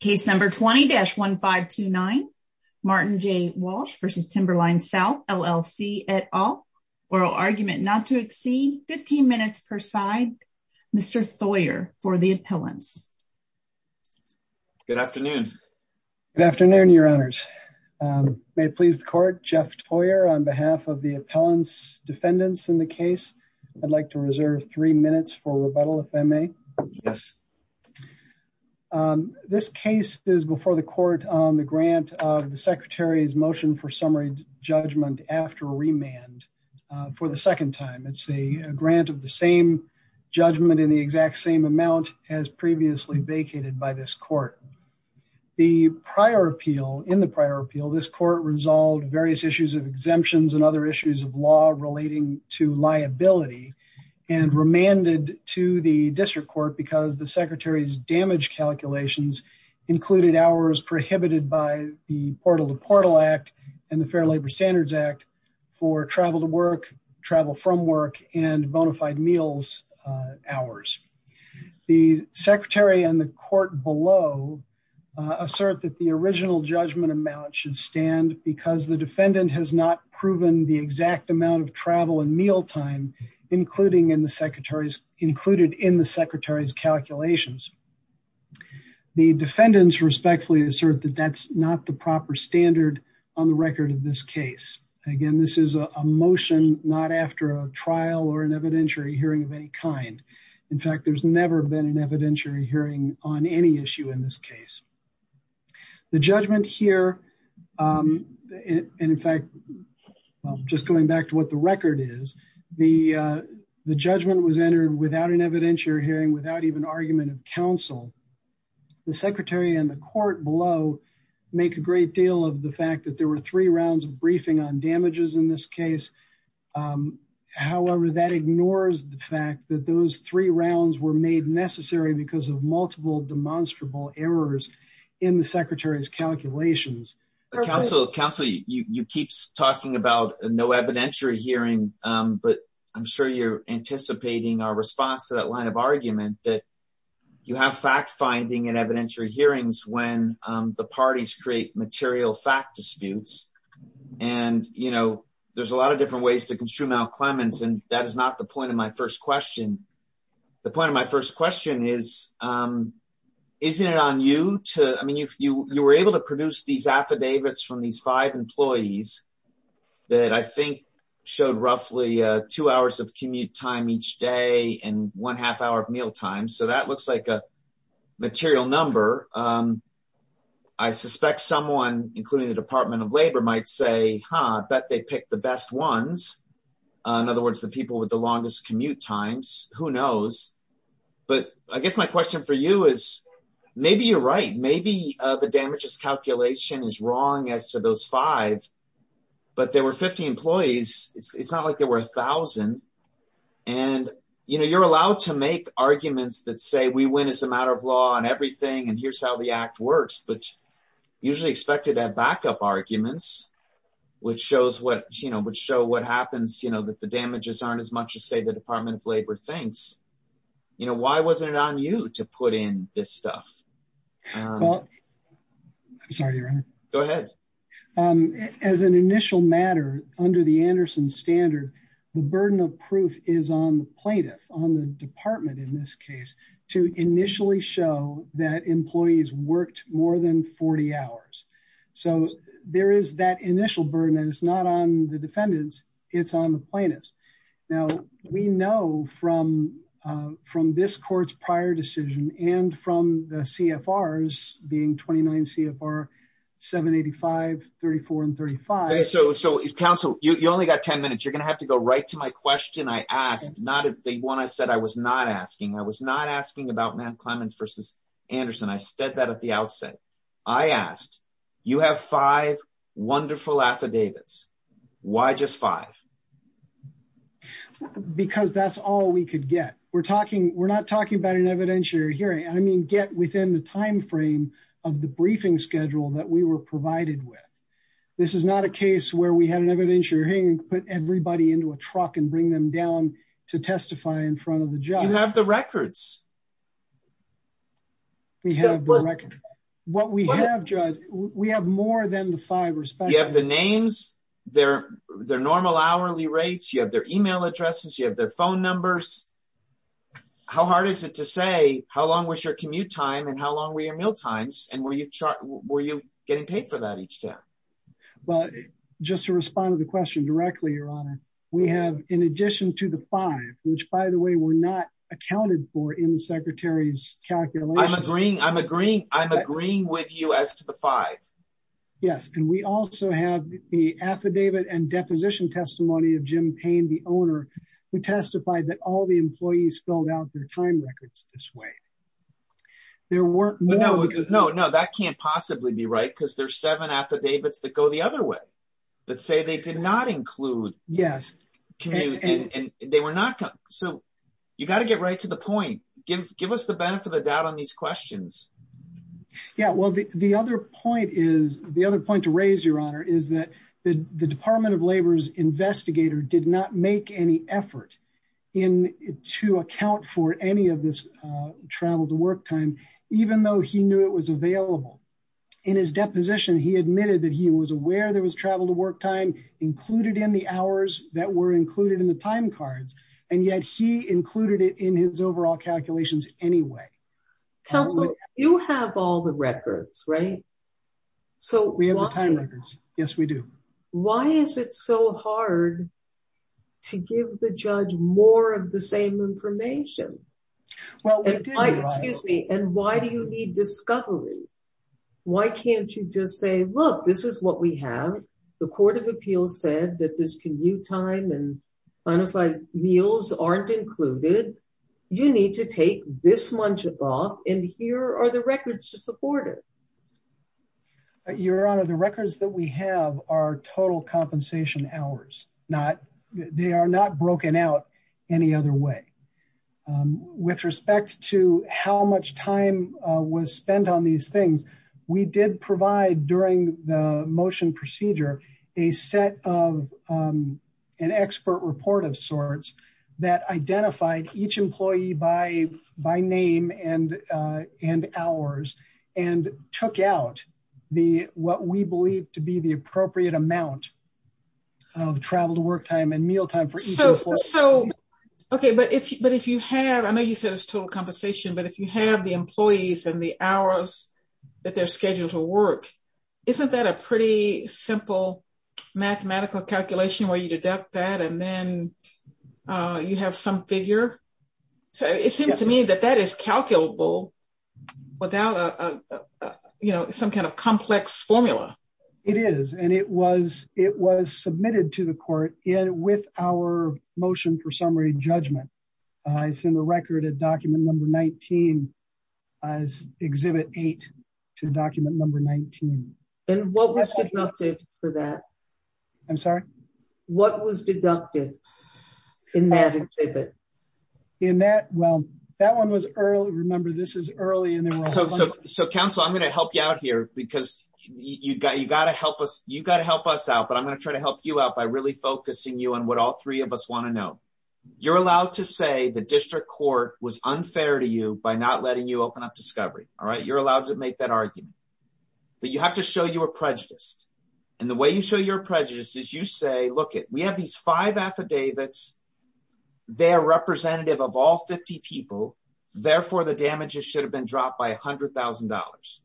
Case number 20-1529 Martin J. Walsh v. Timberline South LLC et al. Oral argument not to exceed 15 minutes per side. Mr. Thoyer for the appellants. Good afternoon. Good afternoon, your honors. May it please the court, Jeff Thoyer on behalf of the appellants defendants in the case. I'd like to reserve three minutes for rebuttal if I may. Yes. This case is before the court on the grant of the secretary's motion for summary judgment after remand for the second time. It's a grant of the same judgment in the exact same amount as previously vacated by this court. The prior appeal in the prior appeal, this court resolved various issues of exemptions and other issues of law relating to liability and remanded to the district court because the secretary's damage calculations included hours prohibited by the Portal to Portal Act and the Fair Labor Standards Act for travel to work, travel from work and bonafide meals hours. The secretary and the court below assert that the original judgment amount should stand because the exact amount of travel and meal time included in the secretary's calculations. The defendants respectfully assert that that's not the proper standard on the record of this case. Again, this is a motion not after a trial or an evidentiary hearing of any kind. In fact, there's never been an evidentiary hearing on any issue in this case. The judgment here, and in fact, just going back to what the record is, the judgment was entered without an evidentiary hearing, without even argument of counsel. The secretary and the court below make a great deal of the fact that there were three rounds of briefing on damages in this case. However, that ignores the fact that those three rounds were made necessary because of multiple demonstrable errors in the secretary's calculations. Counselor, you keep talking about no evidentiary hearing, but I'm sure you're anticipating our response to that line of argument that you have fact-finding and evidentiary hearings when the parties create material fact disputes. And, you know, there's a lot of different ways to construe Mal Clements, and that is not the question. My first question is, isn't it on you to, I mean, you were able to produce these affidavits from these five employees that I think showed roughly two hours of commute time each day and one half hour of mealtime, so that looks like a material number. I suspect someone, including the Department of Labor, might say, huh, I bet they picked the best ones. In other words, the people with the longest commute times. Who knows? But I guess my question for you is, maybe you're right. Maybe the damages calculation is wrong as to those five, but there were 50 employees. It's not like there were a thousand. And, you know, you're allowed to make arguments that say we win as a matter of law and everything, and here's how the act works, but usually expected at backup arguments, which shows what, you know, would show what happens, you know, that the damages aren't as much as, say, the Department of Labor thinks. You know, why wasn't it on you to put in this stuff? I'm sorry, your honor. Go ahead. As an initial matter, under the Anderson standard, the burden of proof is on the plaintiff, on the department in this case, to initially show that employees worked more than 40 hours. So there is that initial burden, and it's not on the defendants. It's on the plaintiffs. Now, we know from this court's prior decision and from the CFRs, being 29 CFR 785, 34, and 35. So counsel, you only got 10 minutes. You're going to have to go right to my question I asked, not the one I said I was not asking. I was not asking about Matt Clements versus Anderson. I said that at the outset. I asked, you have five wonderful affidavits. Why just five? Because that's all we could get. We're talking, we're not talking about an evidentiary hearing. I mean, get within the time frame of the briefing schedule that we were provided with. This is not a case where we had an evidentiary hearing, put everybody into a truck and bring them down to testify in front of the judge. You have the records. We have the records. What we have, Judge, we have more than the five. You have the names, their normal hourly rates, you have their email addresses, you have their phone numbers. How hard is it to say how long was your commute time and how long were your meal times, and were you getting paid for that each time? Well, just to respond to the question directly, we have, in addition to the five, which, by the way, we're not accounted for in the Secretary's calculation. I'm agreeing with you as to the five. Yes, and we also have the affidavit and deposition testimony of Jim Payne, the owner, who testified that all the employees filled out their time records this way. That can't possibly be right because there's seven affidavits that go the other way that say they did not include. Yes. So you got to get right to the point. Give us the benefit of the doubt on these questions. Yeah, well, the other point to raise, Your Honor, is that the Department of Labor's investigator did not make any effort to account for any of this travel to work time, even though he knew it was available. In his deposition, he admitted that he was aware there was travel to work time included in the hours that were included in the time cards, and yet he included it in his overall calculations anyway. Counsel, you have all the records, right? So we have the time records. Yes, we do. Why is it so hard to give the judge more of the same information? And why do you need discovery? Why can't you just say, look, this is what we have. The Court of Appeals said that this commute time and bona fide meals aren't included. You need to take this much of off, and here are the records to support it. Your Honor, the records that we have are total compensation hours. They are not broken out any other way. With respect to how much time was spent on these things, we did provide during the motion procedure a set of an expert report of sorts that identified each employee by name and hours and took out what we believe to be the appropriate amount of travel to work time and meal time. So, okay, but if you have, I know you said it's total compensation, but if you have the employees and the hours that they're scheduled to work, isn't that a pretty simple mathematical calculation where you deduct that and then you have some figure? So it seems to me that that is calculable without a, you know, some kind of complex formula. It is, and it was submitted to the Court with our motion for summary judgment. It's in the record at document number 19, as Exhibit 8 to document number 19. And what was deducted for that? I'm sorry? What was deducted in that exhibit? In that, well, that one was early. Remember, this is early. So, Counsel, I'm going to help you out here because you got to help us. You got to help us out, but I'm going to try to help you out by really focusing you on what all three of us want to know. You're allowed to say the District Court was unfair to you by not letting you open up discovery, all right? You're allowed to make that argument, but you have to show you were prejudiced. And the way you show you're prejudiced is you say, look, we have these five affidavits. They're representative of all 50 people. Therefore, the damages should have been dropped by $100,000.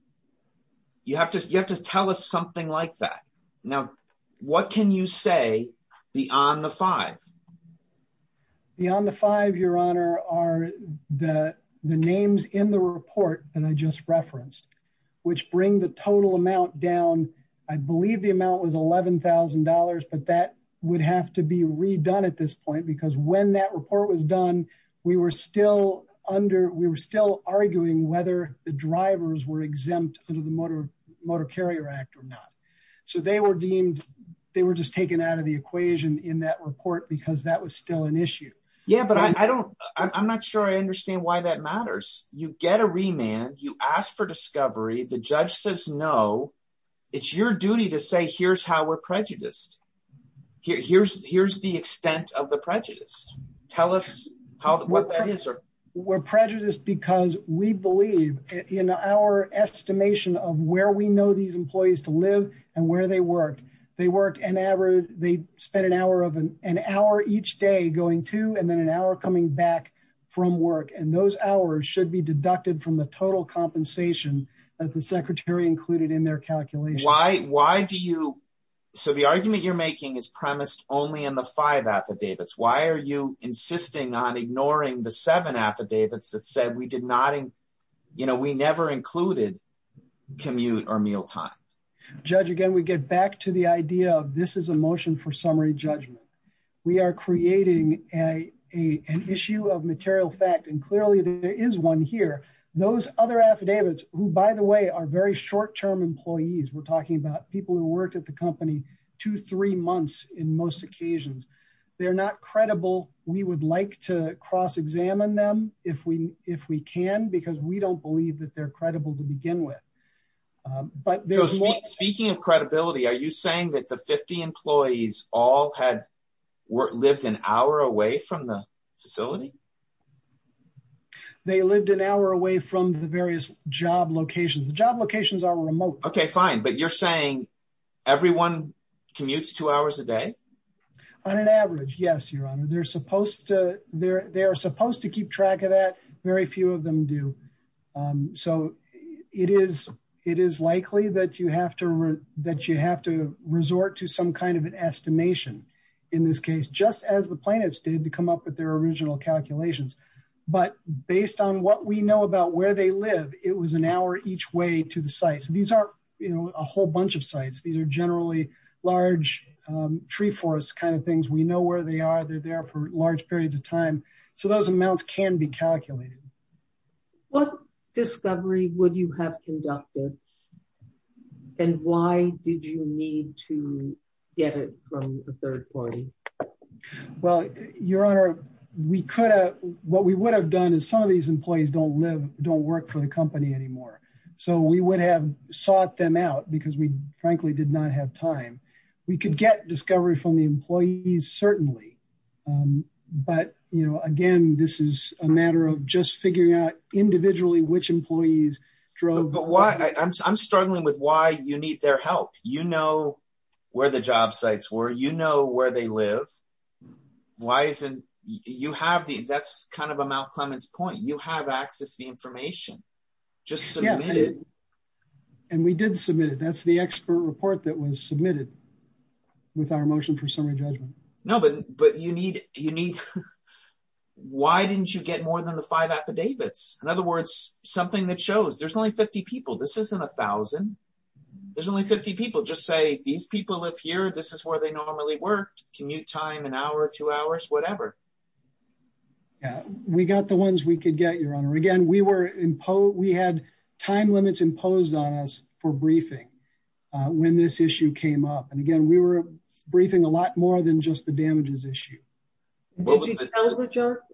You have to tell us something like that. Now, what can you say beyond the five? Beyond the five, Your Honor, are the names in the report that I just referenced, which bring the total amount down. I believe the amount was $11,000, but that would have to be the drivers were exempt under the Motor Carrier Act or not. So, they were deemed, they were just taken out of the equation in that report because that was still an issue. Yeah, but I don't, I'm not sure I understand why that matters. You get a remand. You ask for discovery. The judge says no. It's your duty to say, here's how we're prejudiced. Here's the extent of the prejudice. Tell us what that is. We're prejudiced because we believe in our estimation of where we know these employees to live and where they work. They work an average, they spend an hour each day going to, and then an hour coming back from work. And those hours should be deducted from the total compensation that the secretary included in their calculation. Why do you, so the argument you're making is premised only in the five affidavits. Why are you insisting on ignoring the seven affidavits that said we did not, you know, we never included commute or meal time? Judge, again, we get back to the idea of this is a motion for summary judgment. We are creating an issue of material fact, and clearly there is one here. Those other employees, we're talking about people who worked at the company two, three months in most occasions, they're not credible. We would like to cross-examine them if we can, because we don't believe that they're credible to begin with. Speaking of credibility, are you saying that the 50 employees all had lived an hour away from the facility? They lived an hour away from the Okay, fine. But you're saying everyone commutes two hours a day? On an average, yes, Your Honor. They're supposed to keep track of that. Very few of them do. So it is likely that you have to resort to some kind of an estimation in this case, just as the plaintiffs did to come up with their original calculations. But based on what we know about they live, it was an hour each way to the sites. These aren't a whole bunch of sites. These are generally large tree forests kind of things. We know where they are. They're there for large periods of time. So those amounts can be calculated. What discovery would you have conducted, and why did you need to get it from a third party? Well, Your Honor, what we would have done is some of these employees don't live, don't work for the company anymore. So we would have sought them out because we frankly did not have time. We could get discovery from the employees, certainly. But, you know, again, this is a matter of just figuring out individually which employees drove. But why? I'm struggling with why you need their help. You know, where the job sites were, you know where they live. That's kind of a Malcolm's point. You have access to the information. Just submit it. And we did submit it. That's the expert report that was submitted with our motion for summary judgment. No, but why didn't you get more than the five affidavits? In other words, something that shows there's only 50 people. This isn't a thousand. There's only 50 people. Just say these people live here. This is where they normally worked. Commute time, an hour, two hours, whatever. Yeah, we got the ones we could get, Your Honor. Again, we were imposed. We had time limits imposed on us for briefing when this issue came up. And again, we were briefing a lot more than just the damages issue.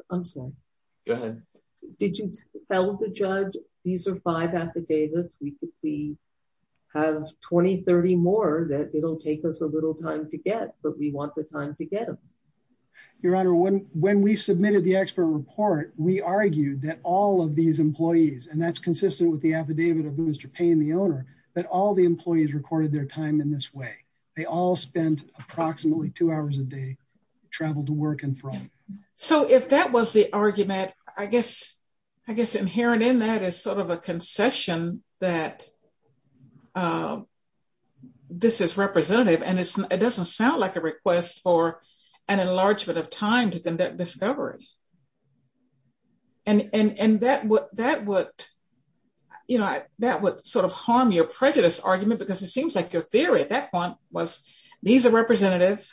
I'm sorry. Go ahead. Did you tell the judge these are five affidavits? We have 20, 30 more that it'll take us a little time to get, but we want the time to get them. Your Honor, when we submitted the expert report, we argued that all of these employees, and that's consistent with the affidavit of Mr. Payne, the owner, that all the employees recorded their time in this way. They all spent approximately two hours a day travel to work and from. So if that was the argument, I guess inherent in that is sort of a concession that this is representative, and it doesn't sound like a request for an enlargement of time to conduct discovery. And that would sort of harm your prejudice argument, because it seems like your theory at that point was these are representative,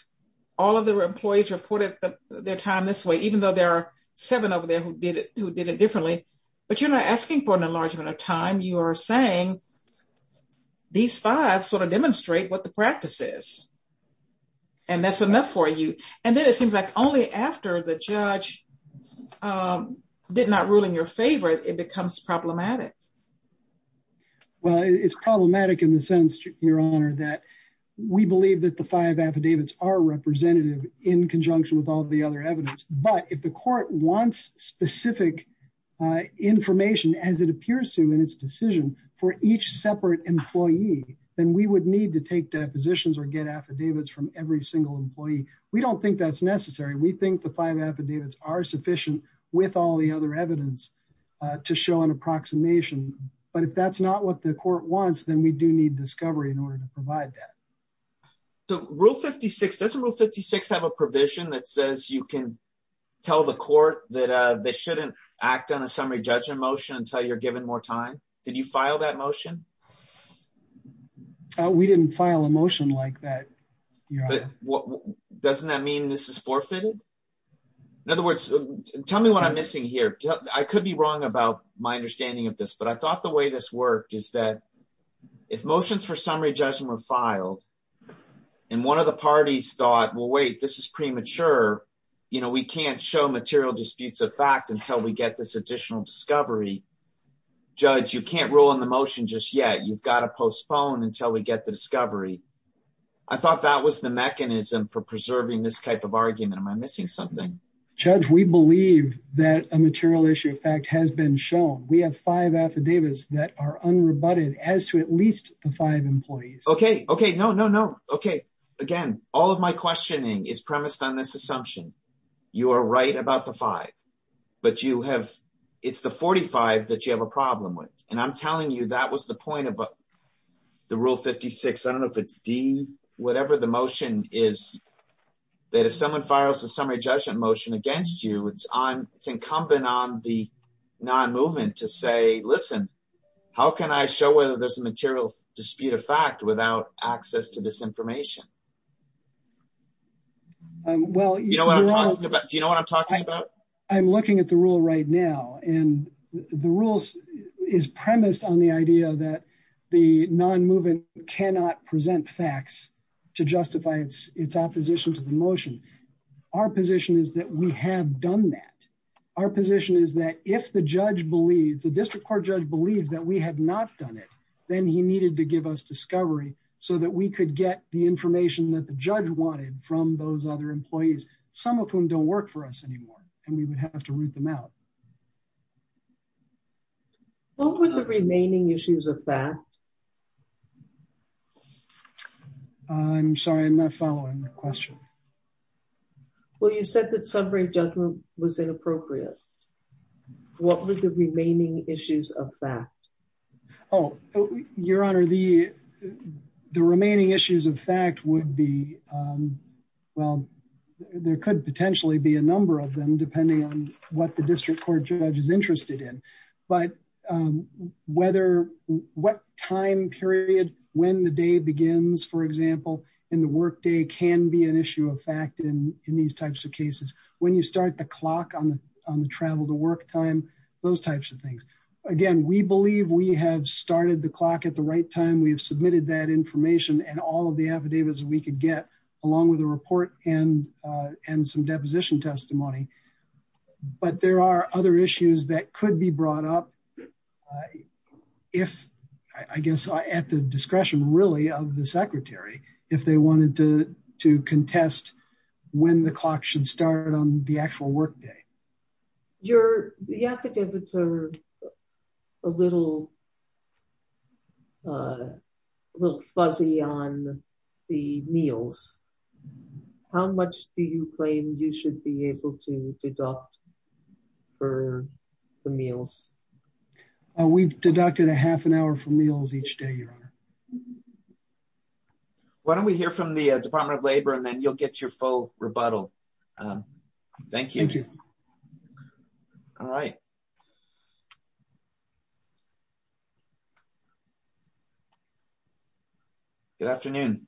all of the employees reported their time this way, even though there are seven over there who did it differently. But you're not asking for an enlargement of time. You are saying these five sort of demonstrate what the practice is, and that's enough for you. And then it seems like only after the judge did not rule in your favor, it becomes problematic. Well, it's problematic in the sense, Your Honor, that we believe that the five affidavits are representative in conjunction with all the other evidence. But if the court wants specific information, as it appears to in its decision for each separate employee, then we would need to take depositions or get affidavits from every single employee. We don't think that's necessary. We think the five affidavits are sufficient with all the other evidence to show an approximation. But if that's not what the court wants, then we do need discovery in order to provide that. So Rule 56, doesn't Rule 56 have a provision that says you can tell the court that they shouldn't act on a summary judgment motion until you're given more time? Did you file that motion? We didn't file a motion like that. Doesn't that mean this is forfeited? In other words, tell me what I'm missing here. I could be wrong about my understanding of this, but I thought the way this worked is that if motions for summary judgment were filed, and one of the parties thought, well, wait, this is premature. We can't show material disputes of fact until we get this additional discovery. Judge, you can't rule on the motion just yet. You've got to postpone until we get the discovery. I thought that was the mechanism for preserving this type of argument. Am I missing something? Judge, we believe that a material issue of fact has been shown. We have five affidavits that are unrebutted as to at least the five employees. Okay. Okay. No, no, no. Okay. Again, all of my questioning is premised on this assumption. You are right about the five, but you have, it's the 45 that you have a problem with. And I'm telling you that was the point of the Rule 56. I don't know if it's D, whatever the motion is, that if someone files a summary judgment motion against you, it's incumbent on the non-movement to say, listen, how can I show whether there's a material dispute of fact without access to this information? Do you know what I'm talking about? I'm looking at the Rule right now. And the Rule is premised on the idea that the non-movement cannot present facts to justify its opposition to the motion. Our position is that we have done that. Our position is that if the judge believed, the district court judge believed that we had not done it, then he needed to give us discovery so that we could get the information that the judge wanted from those other employees, some of whom don't work for us anymore. And we would have to root them out. What were the remaining issues of fact? I'm sorry, I'm not following the question. Well, you said that summary judgment was inappropriate. What were the remaining issues of fact? Oh, Your Honor, the remaining issues of fact would be, well, there could potentially be a number of them depending on what the district court judge is interested in. But whether what time period when the day begins, for example, in the workday can be an issue of fact in these types of cases. When you start the clock on the travel to work time, those types of things. Again, we believe we have started the clock at the right time. We have submitted that information and all of the affidavits we could get along with a report and some deposition testimony. But there are other issues that could be brought up. If I guess I at the discretion really of the secretary, if they wanted to contest when the clock should start on the actual workday. Your affidavits are a little a little fuzzy on the meals. How much do you claim you should be able to deduct for the meals? We've deducted a half an hour for meals each day, Your Honor. Why don't we hear from the Department of Labor and then you'll get your full rebuttal. Thank you. All right. Good afternoon.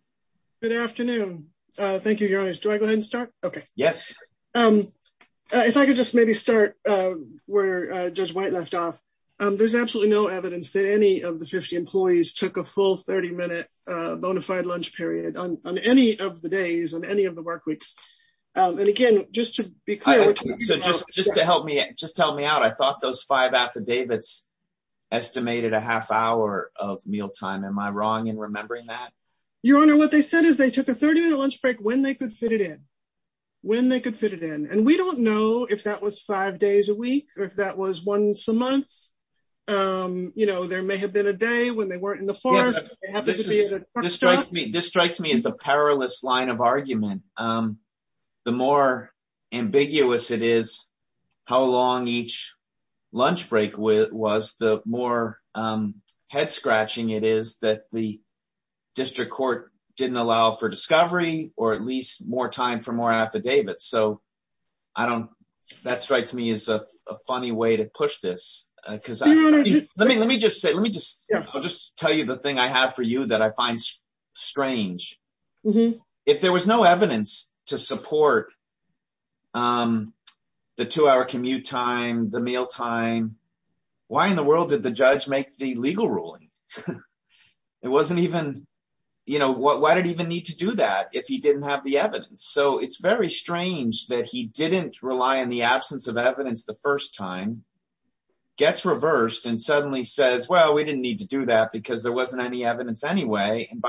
Good afternoon. Thank you, Your Honor. Do I go ahead and start? Okay. Yes. If I could just maybe start where Judge White left off. There's absolutely no evidence that any of the 50 employees took a full 30 minute bonafide lunch period on any of the days on just to help me out. I thought those five affidavits estimated a half hour of mealtime. Am I wrong in remembering that? Your Honor, what they said is they took a 30 minute lunch break when they could fit it in, when they could fit it in. And we don't know if that was five days a week or if that was once a month. There may have been a day when they weren't in the forest. This strikes me as a perilous line argument. The more ambiguous it is how long each lunch break was, the more head scratching it is that the district court didn't allow for discovery or at least more time for more affidavits. So that strikes me as a funny way to push this. I'll just tell you the thing I have for you that I was no evidence to support the two hour commute time, the mealtime. Why in the world did the judge make the legal ruling? Why did he even need to do that if he didn't have the evidence? So it's very strange that he didn't rely on the absence of evidence the first time, gets reversed and suddenly says, well, we didn't need to do that because there wasn't any evidence anyway. And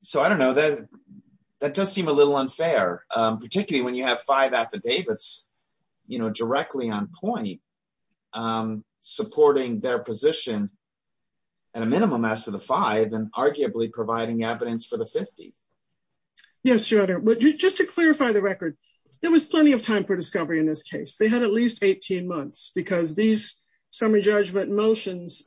so I don't know, that does seem a little unfair, particularly when you have five affidavits, you know, directly on point, supporting their position at a minimum as to the five and arguably providing evidence for the 50. Yes, your honor, but just to clarify the record, there was plenty of time for discovery in this case. They had at least 18 months because these summary judgment motions,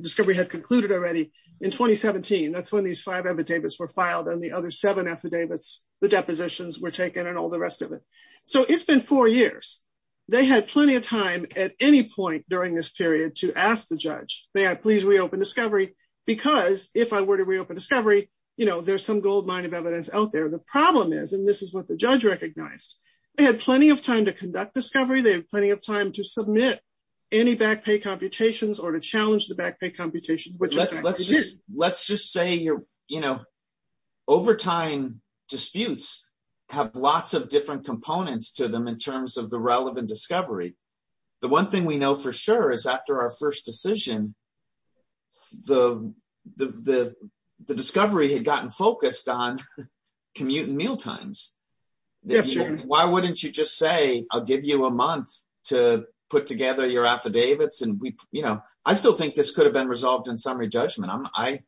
discovery had concluded already in 2017. That's when these five affidavits were filed and the other seven affidavits, the depositions were taken and all the rest of it. So it's been four years. They had plenty of time at any point during this period to ask the judge, may I please reopen discovery? Because if I were to reopen discovery, you know, there's some gold mine of evidence out there. The problem is, and this is what the judge recognized, they had plenty of time to conduct discovery. They have plenty of time to submit any back pay computations or to challenge the back pay computations. Let's just say, you know, overtime disputes have lots of different components to them in terms of the relevant discovery. The one thing we know for sure is after our first decision, the discovery had gotten focused on commute and mealtimes. Why wouldn't you just say, I'll give you a month to put together your affidavits? And we, you know, I still think this could have been resolved in summary judgment. I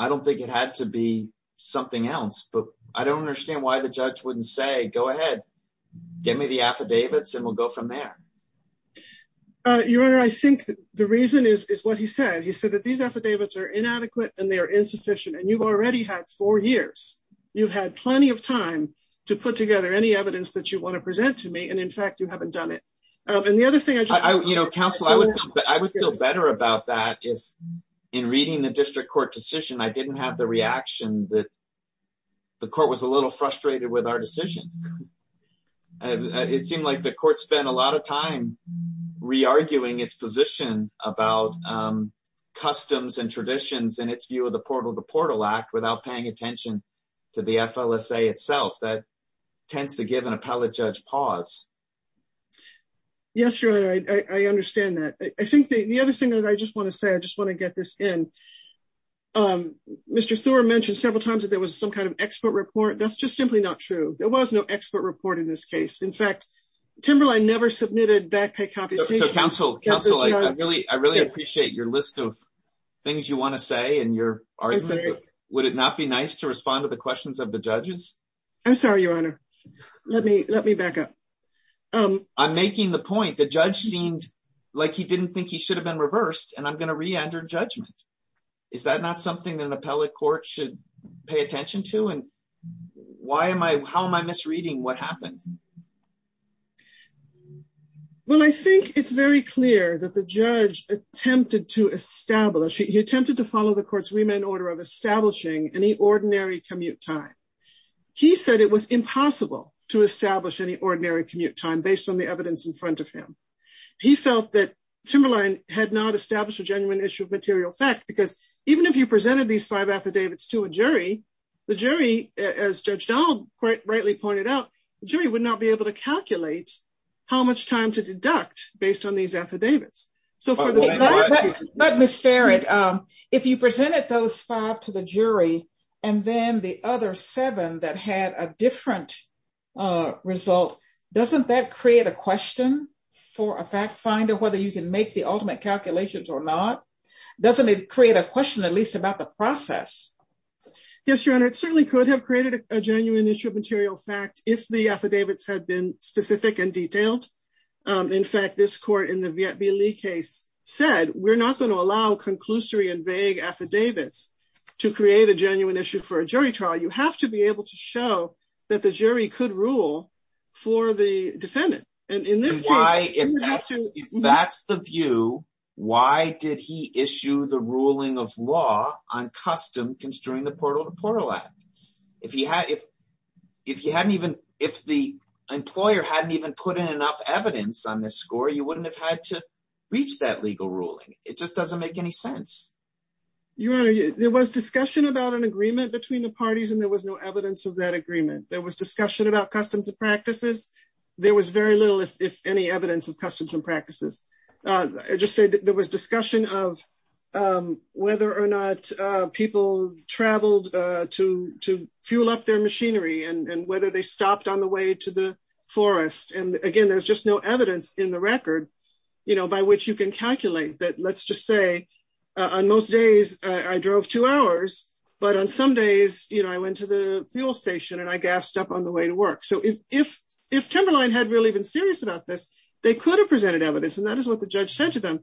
don't think it had to be something else, but I don't understand why the judge wouldn't say, go ahead, get me the affidavits and we'll go from there. Your Honor, I think the reason is what he said. He said that these affidavits are inadequate and they are insufficient and you've already had four years. You've had plenty of time to put it together. In fact, you haven't done it. And the other thing I just want to say is- You know, counsel, I would feel better about that if in reading the district court decision, I didn't have the reaction that the court was a little frustrated with our decision. It seemed like the court spent a lot of time re-arguing its position about customs and traditions and its view of the Portal to Portal Act without paying attention to the FLSA itself. That tends to give an appellate judge pause. Yes, Your Honor, I understand that. I think the other thing that I just want to say, I just want to get this in. Mr. Thorne mentioned several times that there was some kind of expert report. That's just simply not true. There was no expert report in this case. In fact, Timberline never submitted back pay computations. So counsel, I really appreciate your list of things you want to say and your argument. Would it not be nice to respond to the questions of the judges? I'm sorry, Your Honor. Let me back up. I'm making the point, the judge seemed like he didn't think he should have been reversed, and I'm going to re-enter judgment. Is that not something that an appellate court should pay attention to? And how am I misreading what happened? Well, I think it's very clear that the judge attempted to establish, he attempted to follow the court's remand order of establishing any ordinary commute time. He said it was impossible to establish any ordinary commute time based on the evidence in front of him. He felt that Timberline had not established a genuine issue of material fact, because even if you presented these five affidavits to a jury, the jury, as Judge Donald quite rightly pointed out, the jury would not be able to calculate how much time to deduct based on these affidavits. But Ms. Starrett, if you presented those five to the jury, and then the other seven that had a different result, doesn't that create a question for a fact finder whether you can make the ultimate calculations or not? Doesn't it create a question at least about the process? Yes, Your Honor. It certainly could have created a genuine issue of material fact, if the affidavits had been specific and detailed. In fact, this court in the Viet B. Lee case said, we're not going to allow conclusory and vague affidavits to create a genuine issue for a jury trial. You have to be able to show that the jury could rule for the defendant. And in this case, if that's the view, why did he issue the ruling of law on custom construing the Portal to Portal Act? If the employer hadn't even put in enough evidence on this score, you wouldn't have had to reach that legal ruling. It just doesn't make any sense. Your Honor, there was discussion about an agreement between the parties, and there was no evidence of that agreement. There was discussion about customs and practices. There was very little, if any, evidence of customs and practices. I just said there was of whether or not people traveled to fuel up their machinery, and whether they stopped on the way to the forest. And again, there's just no evidence in the record by which you can calculate that. Let's just say, on most days, I drove two hours. But on some days, I went to the fuel station, and I gassed up on the way to work. So if Timberline had really been serious about this, they could have presented evidence. And that is what the judge said to them.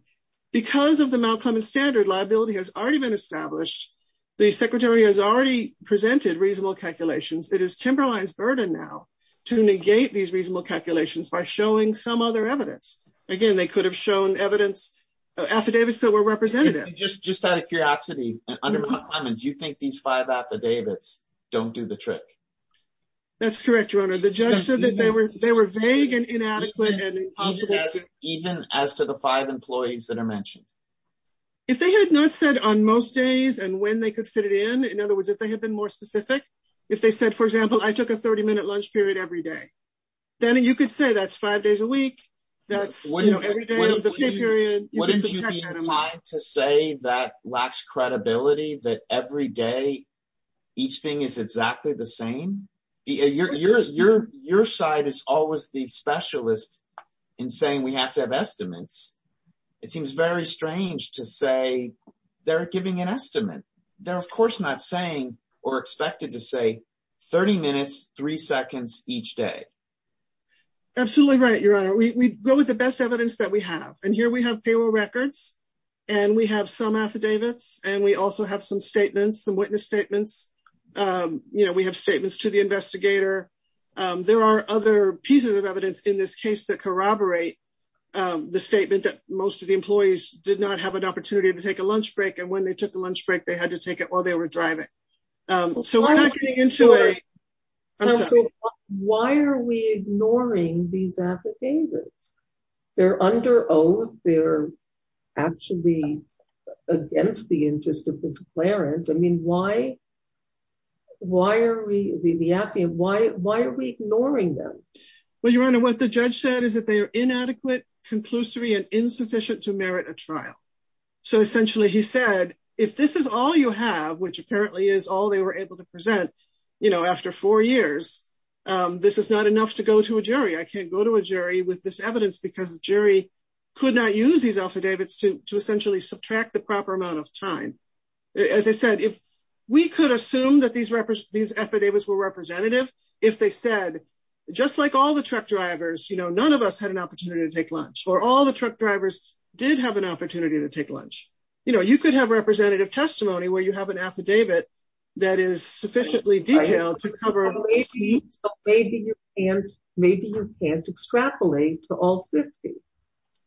Because of the Mount Clemens standard, liability has already been established. The Secretary has already presented reasonable calculations. It is Timberline's burden now to negate these reasonable calculations by showing some other evidence. Again, they could have shown evidence, affidavits that were representative. Just out of curiosity, under Mount Clemens, you think these five affidavits don't do the trick? That's correct, Your Honor. The judge said that they were vague and inadequate. Even as to the five employees that are mentioned? If they had not said on most days, and when they could fit it in, in other words, if they had been more specific, if they said, for example, I took a 30-minute lunch period every day, then you could say that's five days a week. That's, you know, every day of the period. Wouldn't you be inclined to say that lacks credibility, that every day, each thing is exactly the same? Your side is always the specialist in saying we have to have estimates. It seems very strange to say they're giving an estimate. They're, of course, not saying or expected to say 30 minutes, three seconds each day. Absolutely right, Your Honor. We go with the best evidence that we have. And here we have payroll and we also have some statements, some witness statements. You know, we have statements to the investigator. There are other pieces of evidence in this case that corroborate the statement that most of the employees did not have an opportunity to take a lunch break. And when they took the lunch break, they had to take it while they were driving. So why are we ignoring these affidavits? They're under oath. They're actually against the interest of the declarant. I mean, why are we, the affidavit, why are we ignoring them? Well, Your Honor, what the judge said is that they are inadequate, conclusory and insufficient to merit a trial. So essentially he said, if this is all you have, which apparently is all they were able to present, you know, after four years, this is not enough to go to a jury. I can't go to a jury with this evidence because the jury could not use these affidavits to essentially subtract the proper amount of time. As I said, if we could assume that these affidavits were representative, if they said, just like all the truck drivers, you know, none of us had an opportunity to take lunch or all the truck drivers did have an opportunity to take lunch. You know, you could have representative testimony where you have an affidavit that is sufficiently detailed to cover. Maybe you can't extrapolate to all 50,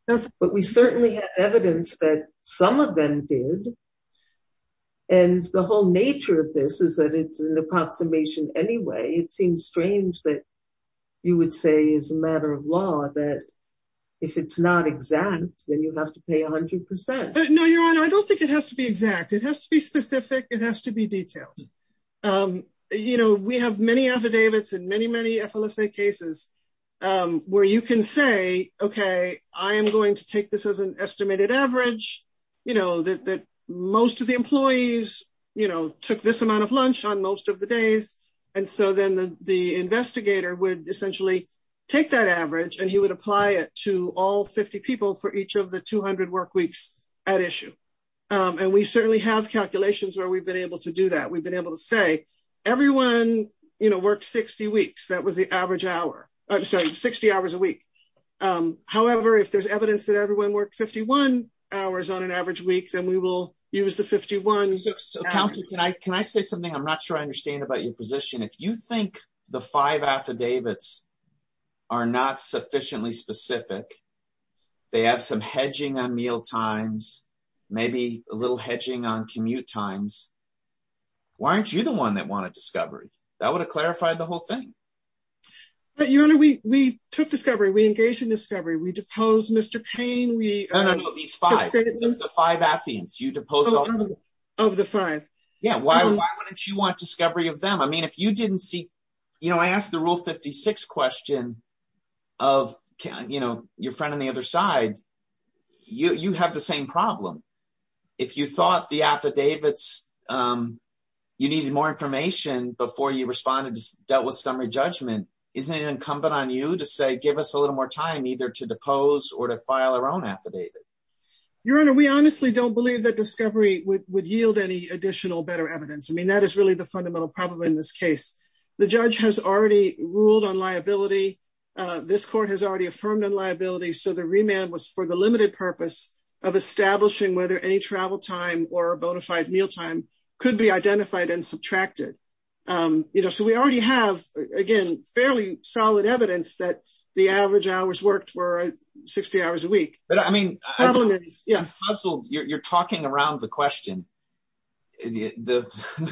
but we certainly have evidence that some of them did. And the whole nature of this is that it's an approximation anyway. It seems strange that you would say as a matter of law that if it's not exact, then you have to pay a hundred percent. No, Your Honor, I don't think it has to be exact. It has to be specific. It has to be detailed. You know, we have many affidavits and many, many FLSA cases where you can say, okay, I am going to take this as an estimated average, you know, that most of the employees, you know, took this amount of lunch on most of the days. And so then the investigator would essentially take that issue. And we certainly have calculations where we've been able to do that. We've been able to say everyone, you know, worked 60 weeks. That was the average hour. I'm sorry, 60 hours a week. However, if there's evidence that everyone worked 51 hours on an average week, then we will use the 51. So counsel, can I say something? I'm not sure I understand about your position. If you think the five affidavits are not sufficiently specific, they have some hedging on meal times, maybe a little hedging on commute times. Why aren't you the one that wanted discovery? That would have clarified the whole thing. But Your Honor, we took discovery. We engaged in discovery. We deposed Mr. Payne. No, no, no. These five affidavits, you deposed all of them. Of the five. Yeah, why wouldn't you want discovery of them? I mean, if you didn't see, you know, I asked the Rule 56 question of, you know, your friend on the other side, you have the same problem. If you thought the affidavits, you needed more information before you responded, dealt with summary judgment, isn't it incumbent on you to say, give us a little more time either to depose or to file our own affidavit? Your Honor, we honestly don't believe that discovery would yield any additional better evidence. I mean, that is really the fundamental problem in this case. The judge has already ruled on liability. This court has already affirmed on liability. So the remand was for the limited purpose of establishing whether any travel time or bonafide mealtime could be identified and subtracted. You know, so we already have, again, fairly solid evidence that the average hours worked were 60 hours a week. But I mean, you're talking around the question. The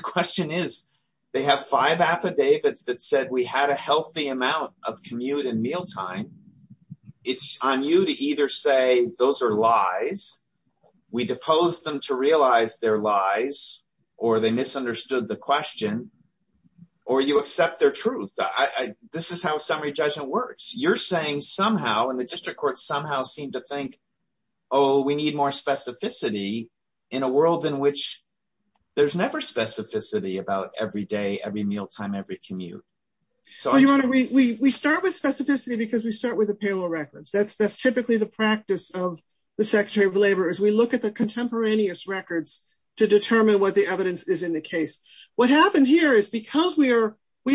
question is, they have five affidavits that said we had a healthy amount of commute and mealtime. It's on you to either say those are lies, we depose them to realize they're lies, or they misunderstood the question, or you accept their truth. This is how summary judgment works. You're saying somehow, and the district court somehow seemed to think, oh, we need more There's never specificity about every day, every mealtime, every commute. So we start with specificity because we start with the payroll records. That's typically the practice of the Secretary of Labor, is we look at the contemporaneous records to determine what the evidence is in the case. What happened here is because we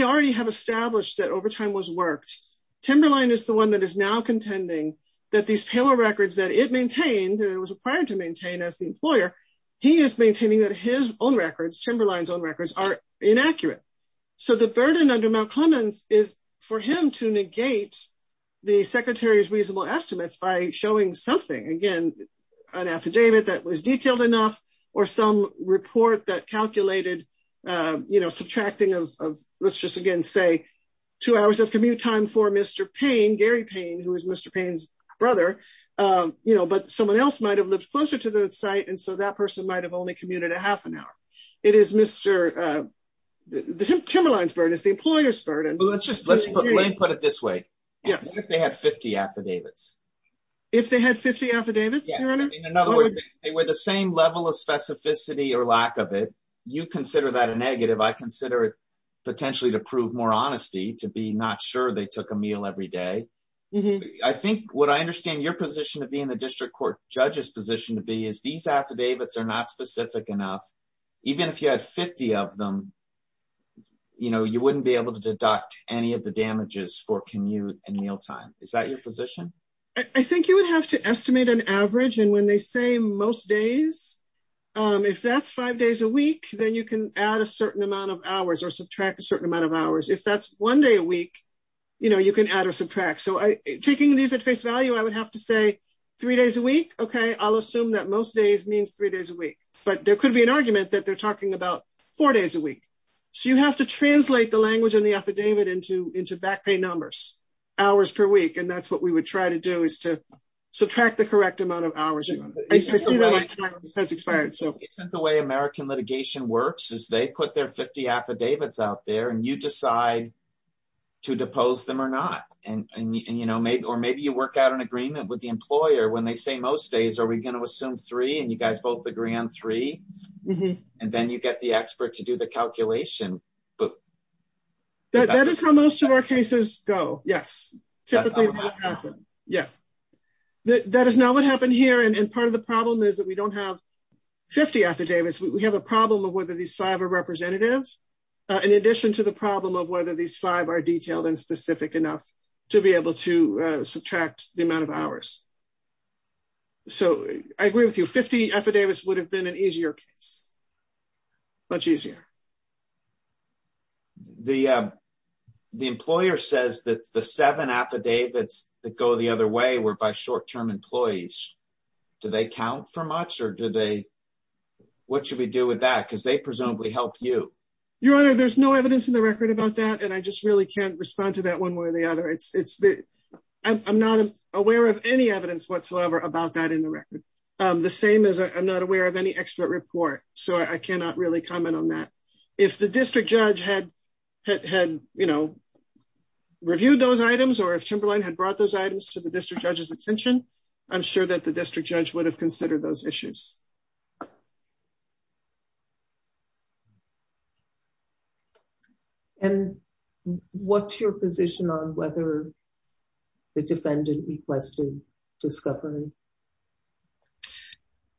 already have established that overtime was worked, Timberline is the one that is now contending that these payroll records that it was required to maintain as the employer, he is maintaining that his own records, Timberline's own records, are inaccurate. So the burden under Mount Clemens is for him to negate the Secretary's reasonable estimates by showing something, again, an affidavit that was detailed enough or some report that calculated subtracting of, let's just again say, two hours of commute for Mr. Payne, Gary Payne, who is Mr. Payne's brother, but someone else might have lived closer to the site, and so that person might have only commuted a half an hour. It is Mr. Timberline's burden. It's the employer's burden. Let's just put it this way. Yes. If they had 50 affidavits. If they had 50 affidavits? In other words, they were the same level of specificity or lack of it. You consider that a negative. I consider it potentially to prove more honesty, to be not they took a meal every day. I think what I understand your position to be in the district court judge's position to be is these affidavits are not specific enough. Even if you had 50 of them, you wouldn't be able to deduct any of the damages for commute and mealtime. Is that your position? I think you would have to estimate an average, and when they say most days, if that's five days a week, then you can add a certain amount of hours or subtract a certain amount of hours. If that's one day a week, you can add or subtract. Taking these at face value, I would have to say three days a week. I'll assume that most days means three days a week, but there could be an argument that they're talking about four days a week. You have to translate the language in the affidavit into back pay numbers, hours per week, and that's what we would try to do is to subtract the correct amount of hours. The way American litigation works is they put their 50 affidavits out there, and you decide to depose them or not, or maybe you work out an agreement with the employer when they say most days, are we going to assume three, and you guys both agree on three, and then you get the expert to do the calculation. That is how most of our cases go, yes. That is not what happened here, and part of the problem is that we don't have 50 affidavits. We have a problem of whether these five are representative, in addition to the problem of whether these five are detailed and specific enough to be able to subtract the amount of hours. I agree with you, 50 affidavits would have been an easier case, much easier. The employer says that the seven affidavits that go the other way were by short-term employees. Do they count for much, or what should we do with that, because they presumably help you? Your Honor, there's no evidence in the record about that, and I just really can't respond to that one way or the other. I'm not aware of any evidence whatsoever about that in the record, the same as I'm not aware of any expert report, so I cannot really comment on that. If the district judge had reviewed those items, or if Timberline had brought those items to the district judge's attention, I'm sure that the district judge would have considered those issues. What's your position on whether the defendant requested discovery?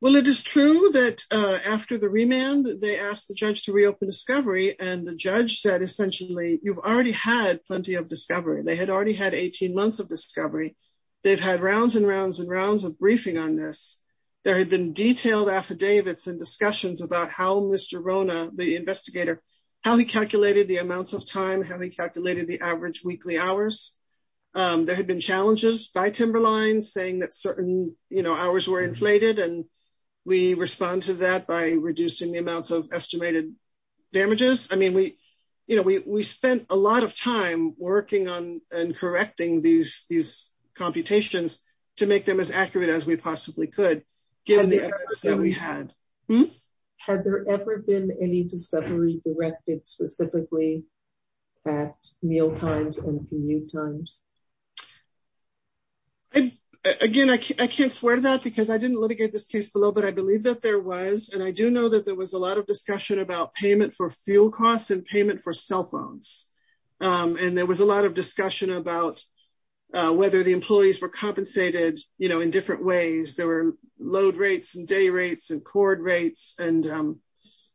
Well, it is true that after the remand, they asked the judge to reopen discovery, and the judge said, essentially, you've already had plenty of discovery. They had already had 18 months of discovery. They've had rounds and rounds and rounds of briefing on this. There had been detailed affidavits and discussions about how Mr. Rona, the investigator, how he calculated the amounts of time, how he calculated the average weekly hours. There had been challenges by Timberline, saying that certain hours were inflated, and we respond to that by reducing the amounts of estimated damages. I mean, we spent a lot of time working and correcting these computations to make them as accurate as we possibly could, given the evidence that we had. Had there ever been any discovery directed specifically at mealtimes and commute times? Again, I can't swear that, because I didn't litigate this case below, but I believe that there was, and I do know that there was a lot of discussion about payment for fuel costs and payment for cell phones, and there was a lot of discussion about whether the employees were compensated in different ways. There were load rates and day rates and cord rates, and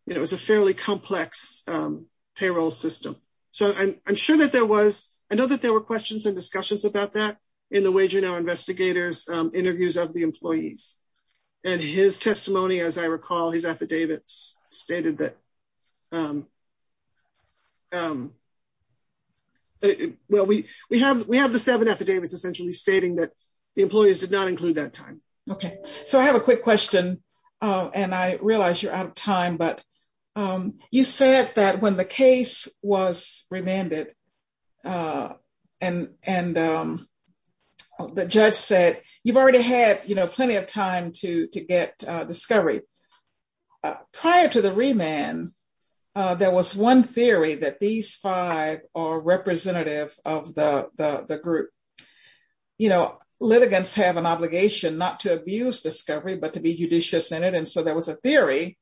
it was a fairly complex payroll system. I know that there were questions and discussions about that in the Wage and Hour investigators' interviews of the employees, and his testimony, as I recall, his affidavits stated that, well, we have the seven affidavits essentially, stating that the employees did not include that time. Okay, so I have a quick question, and I realize you're out of time, but you said that when the case was remanded, and the judge said, you've already had, you know, plenty of time to get discovery. Prior to the remand, there was one theory that these five are representative of the group. You know, litigants have an obligation not to abuse discovery, but to be judicious in it, and so there was a theory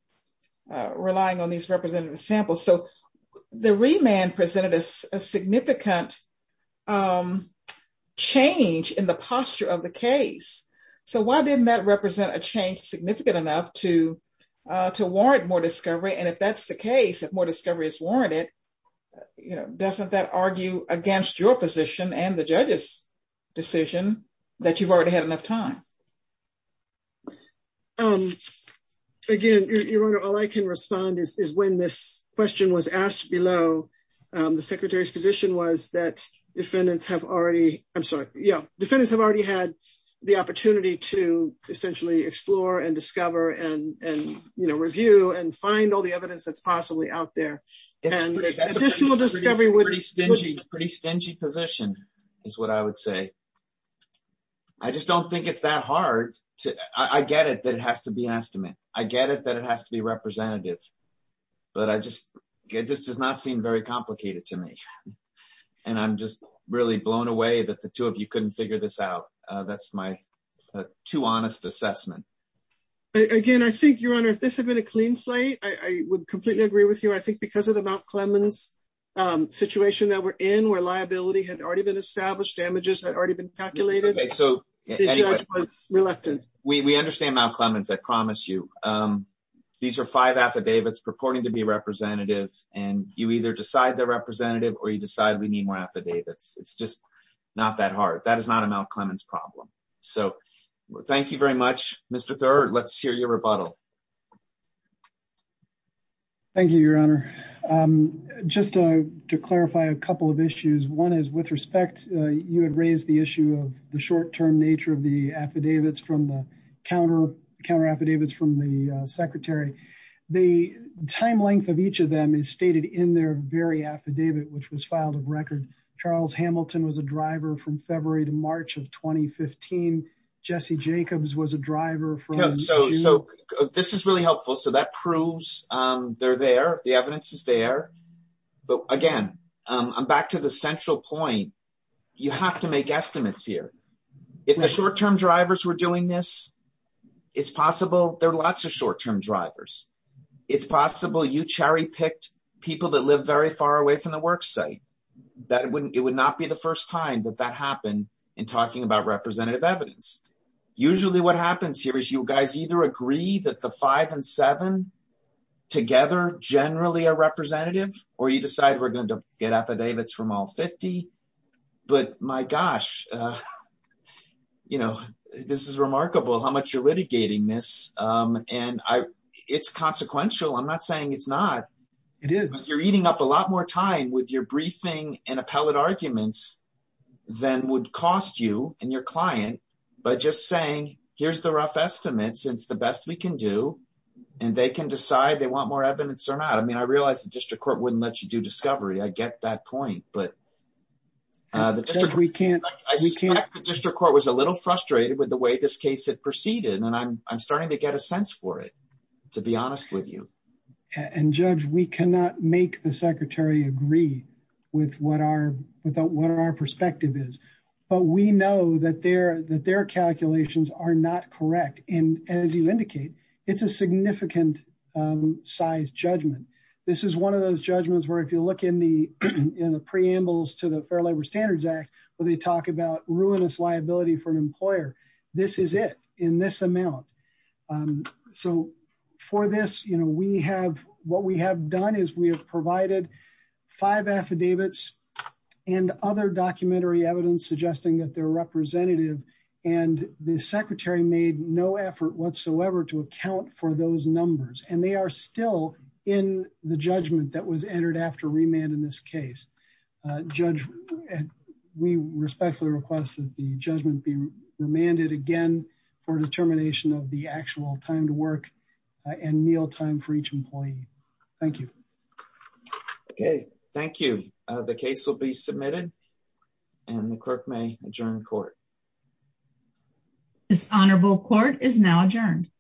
relying on these representative samples. So, the remand presented a significant change in the posture of the case, so why didn't that represent a change significant enough to warrant more discovery, and if that's the case, if more discovery is warranted, you know, doesn't that argue against your position and the judge's decision that you've already had enough time? Again, Your Honor, all I can respond is when this question was asked below, the Secretary's position was that defendants have already, I'm sorry, yeah, defendants have already had the opportunity to essentially explore and discover and, you know, review and find all the evidence that's possibly out there, and that's a pretty stingy position, is what I would say. I just don't think it's that hard. I get it has to be an estimate. I get it that it has to be representative, but this does not seem very complicated to me, and I'm just really blown away that the two of you couldn't figure this out. That's my too honest assessment. Again, I think, Your Honor, if this had been a clean slate, I would completely agree with you. I think because of the Mount Clemens situation that we're in, where liability had already been established, damages had already been calculated, the judge was reluctant. We understand Mount Clemens, I promise you. These are five affidavits purporting to be representative, and you either decide they're representative or you decide we need more affidavits. It's just not that hard. That is not a Mount Clemens problem. So thank you very much. Mr. Thurr, let's hear your rebuttal. Thank you, Your Honor. Just to clarify a couple of issues, one is with respect, you had raised the issue of the short-term nature of the affidavits from the counter affidavits from the secretary. The time length of each of them is stated in their very affidavit, which was filed of record. Charles Hamilton was a driver from February to March of 2015. Jesse Jacobs was a driver from- So this is really helpful. So that proves they're there. The evidence is there. But again, I'm back to the central point. You have to make estimates here. If the short-term drivers were doing this, it's possible there are lots of short-term drivers. It's possible you cherry-picked people that live very far away from the work site. It would not be the first time that that happened in talking about representative evidence. Usually what happens here is you guys either agree that the five and seven together generally are representative, or you decide we're going to get affidavits from all 50. But my gosh, this is remarkable how much you're litigating this. It's consequential. I'm not saying it's not. It is. You're eating up a lot more time with your briefing and appellate arguments than would cost you and your client by just saying, here's the rough estimates. It's the best we can do. They can decide they want more evidence or not. I realize the district court wouldn't let you do discovery. I get that point. I suspect the district court was a little frustrated with the way this case had proceeded. I'm starting to get a sense for it, to be honest with you. Judge, we cannot make the secretary agree with what our perspective is, but we know that their calculations are not correct. As you indicate, it's a significant size judgment. This is one of those judgments where if you look in the preambles to the Fair Labor Standards Act, where they talk about ruinous liability for an employer, this is it in this amount. For this, what we have done is we have provided five affidavits and other documentary evidence suggesting that they're representative. The secretary made no effort whatsoever to account for those numbers. They are still in the judgment that was entered after remand in this case. Judge, we respectfully request that the judgment be remanded again for determination of the actual time to work and meal time for each employee. Thank you. Okay. Thank you. The case will be submitted and the clerk may adjourn court. This honorable court is now adjourned.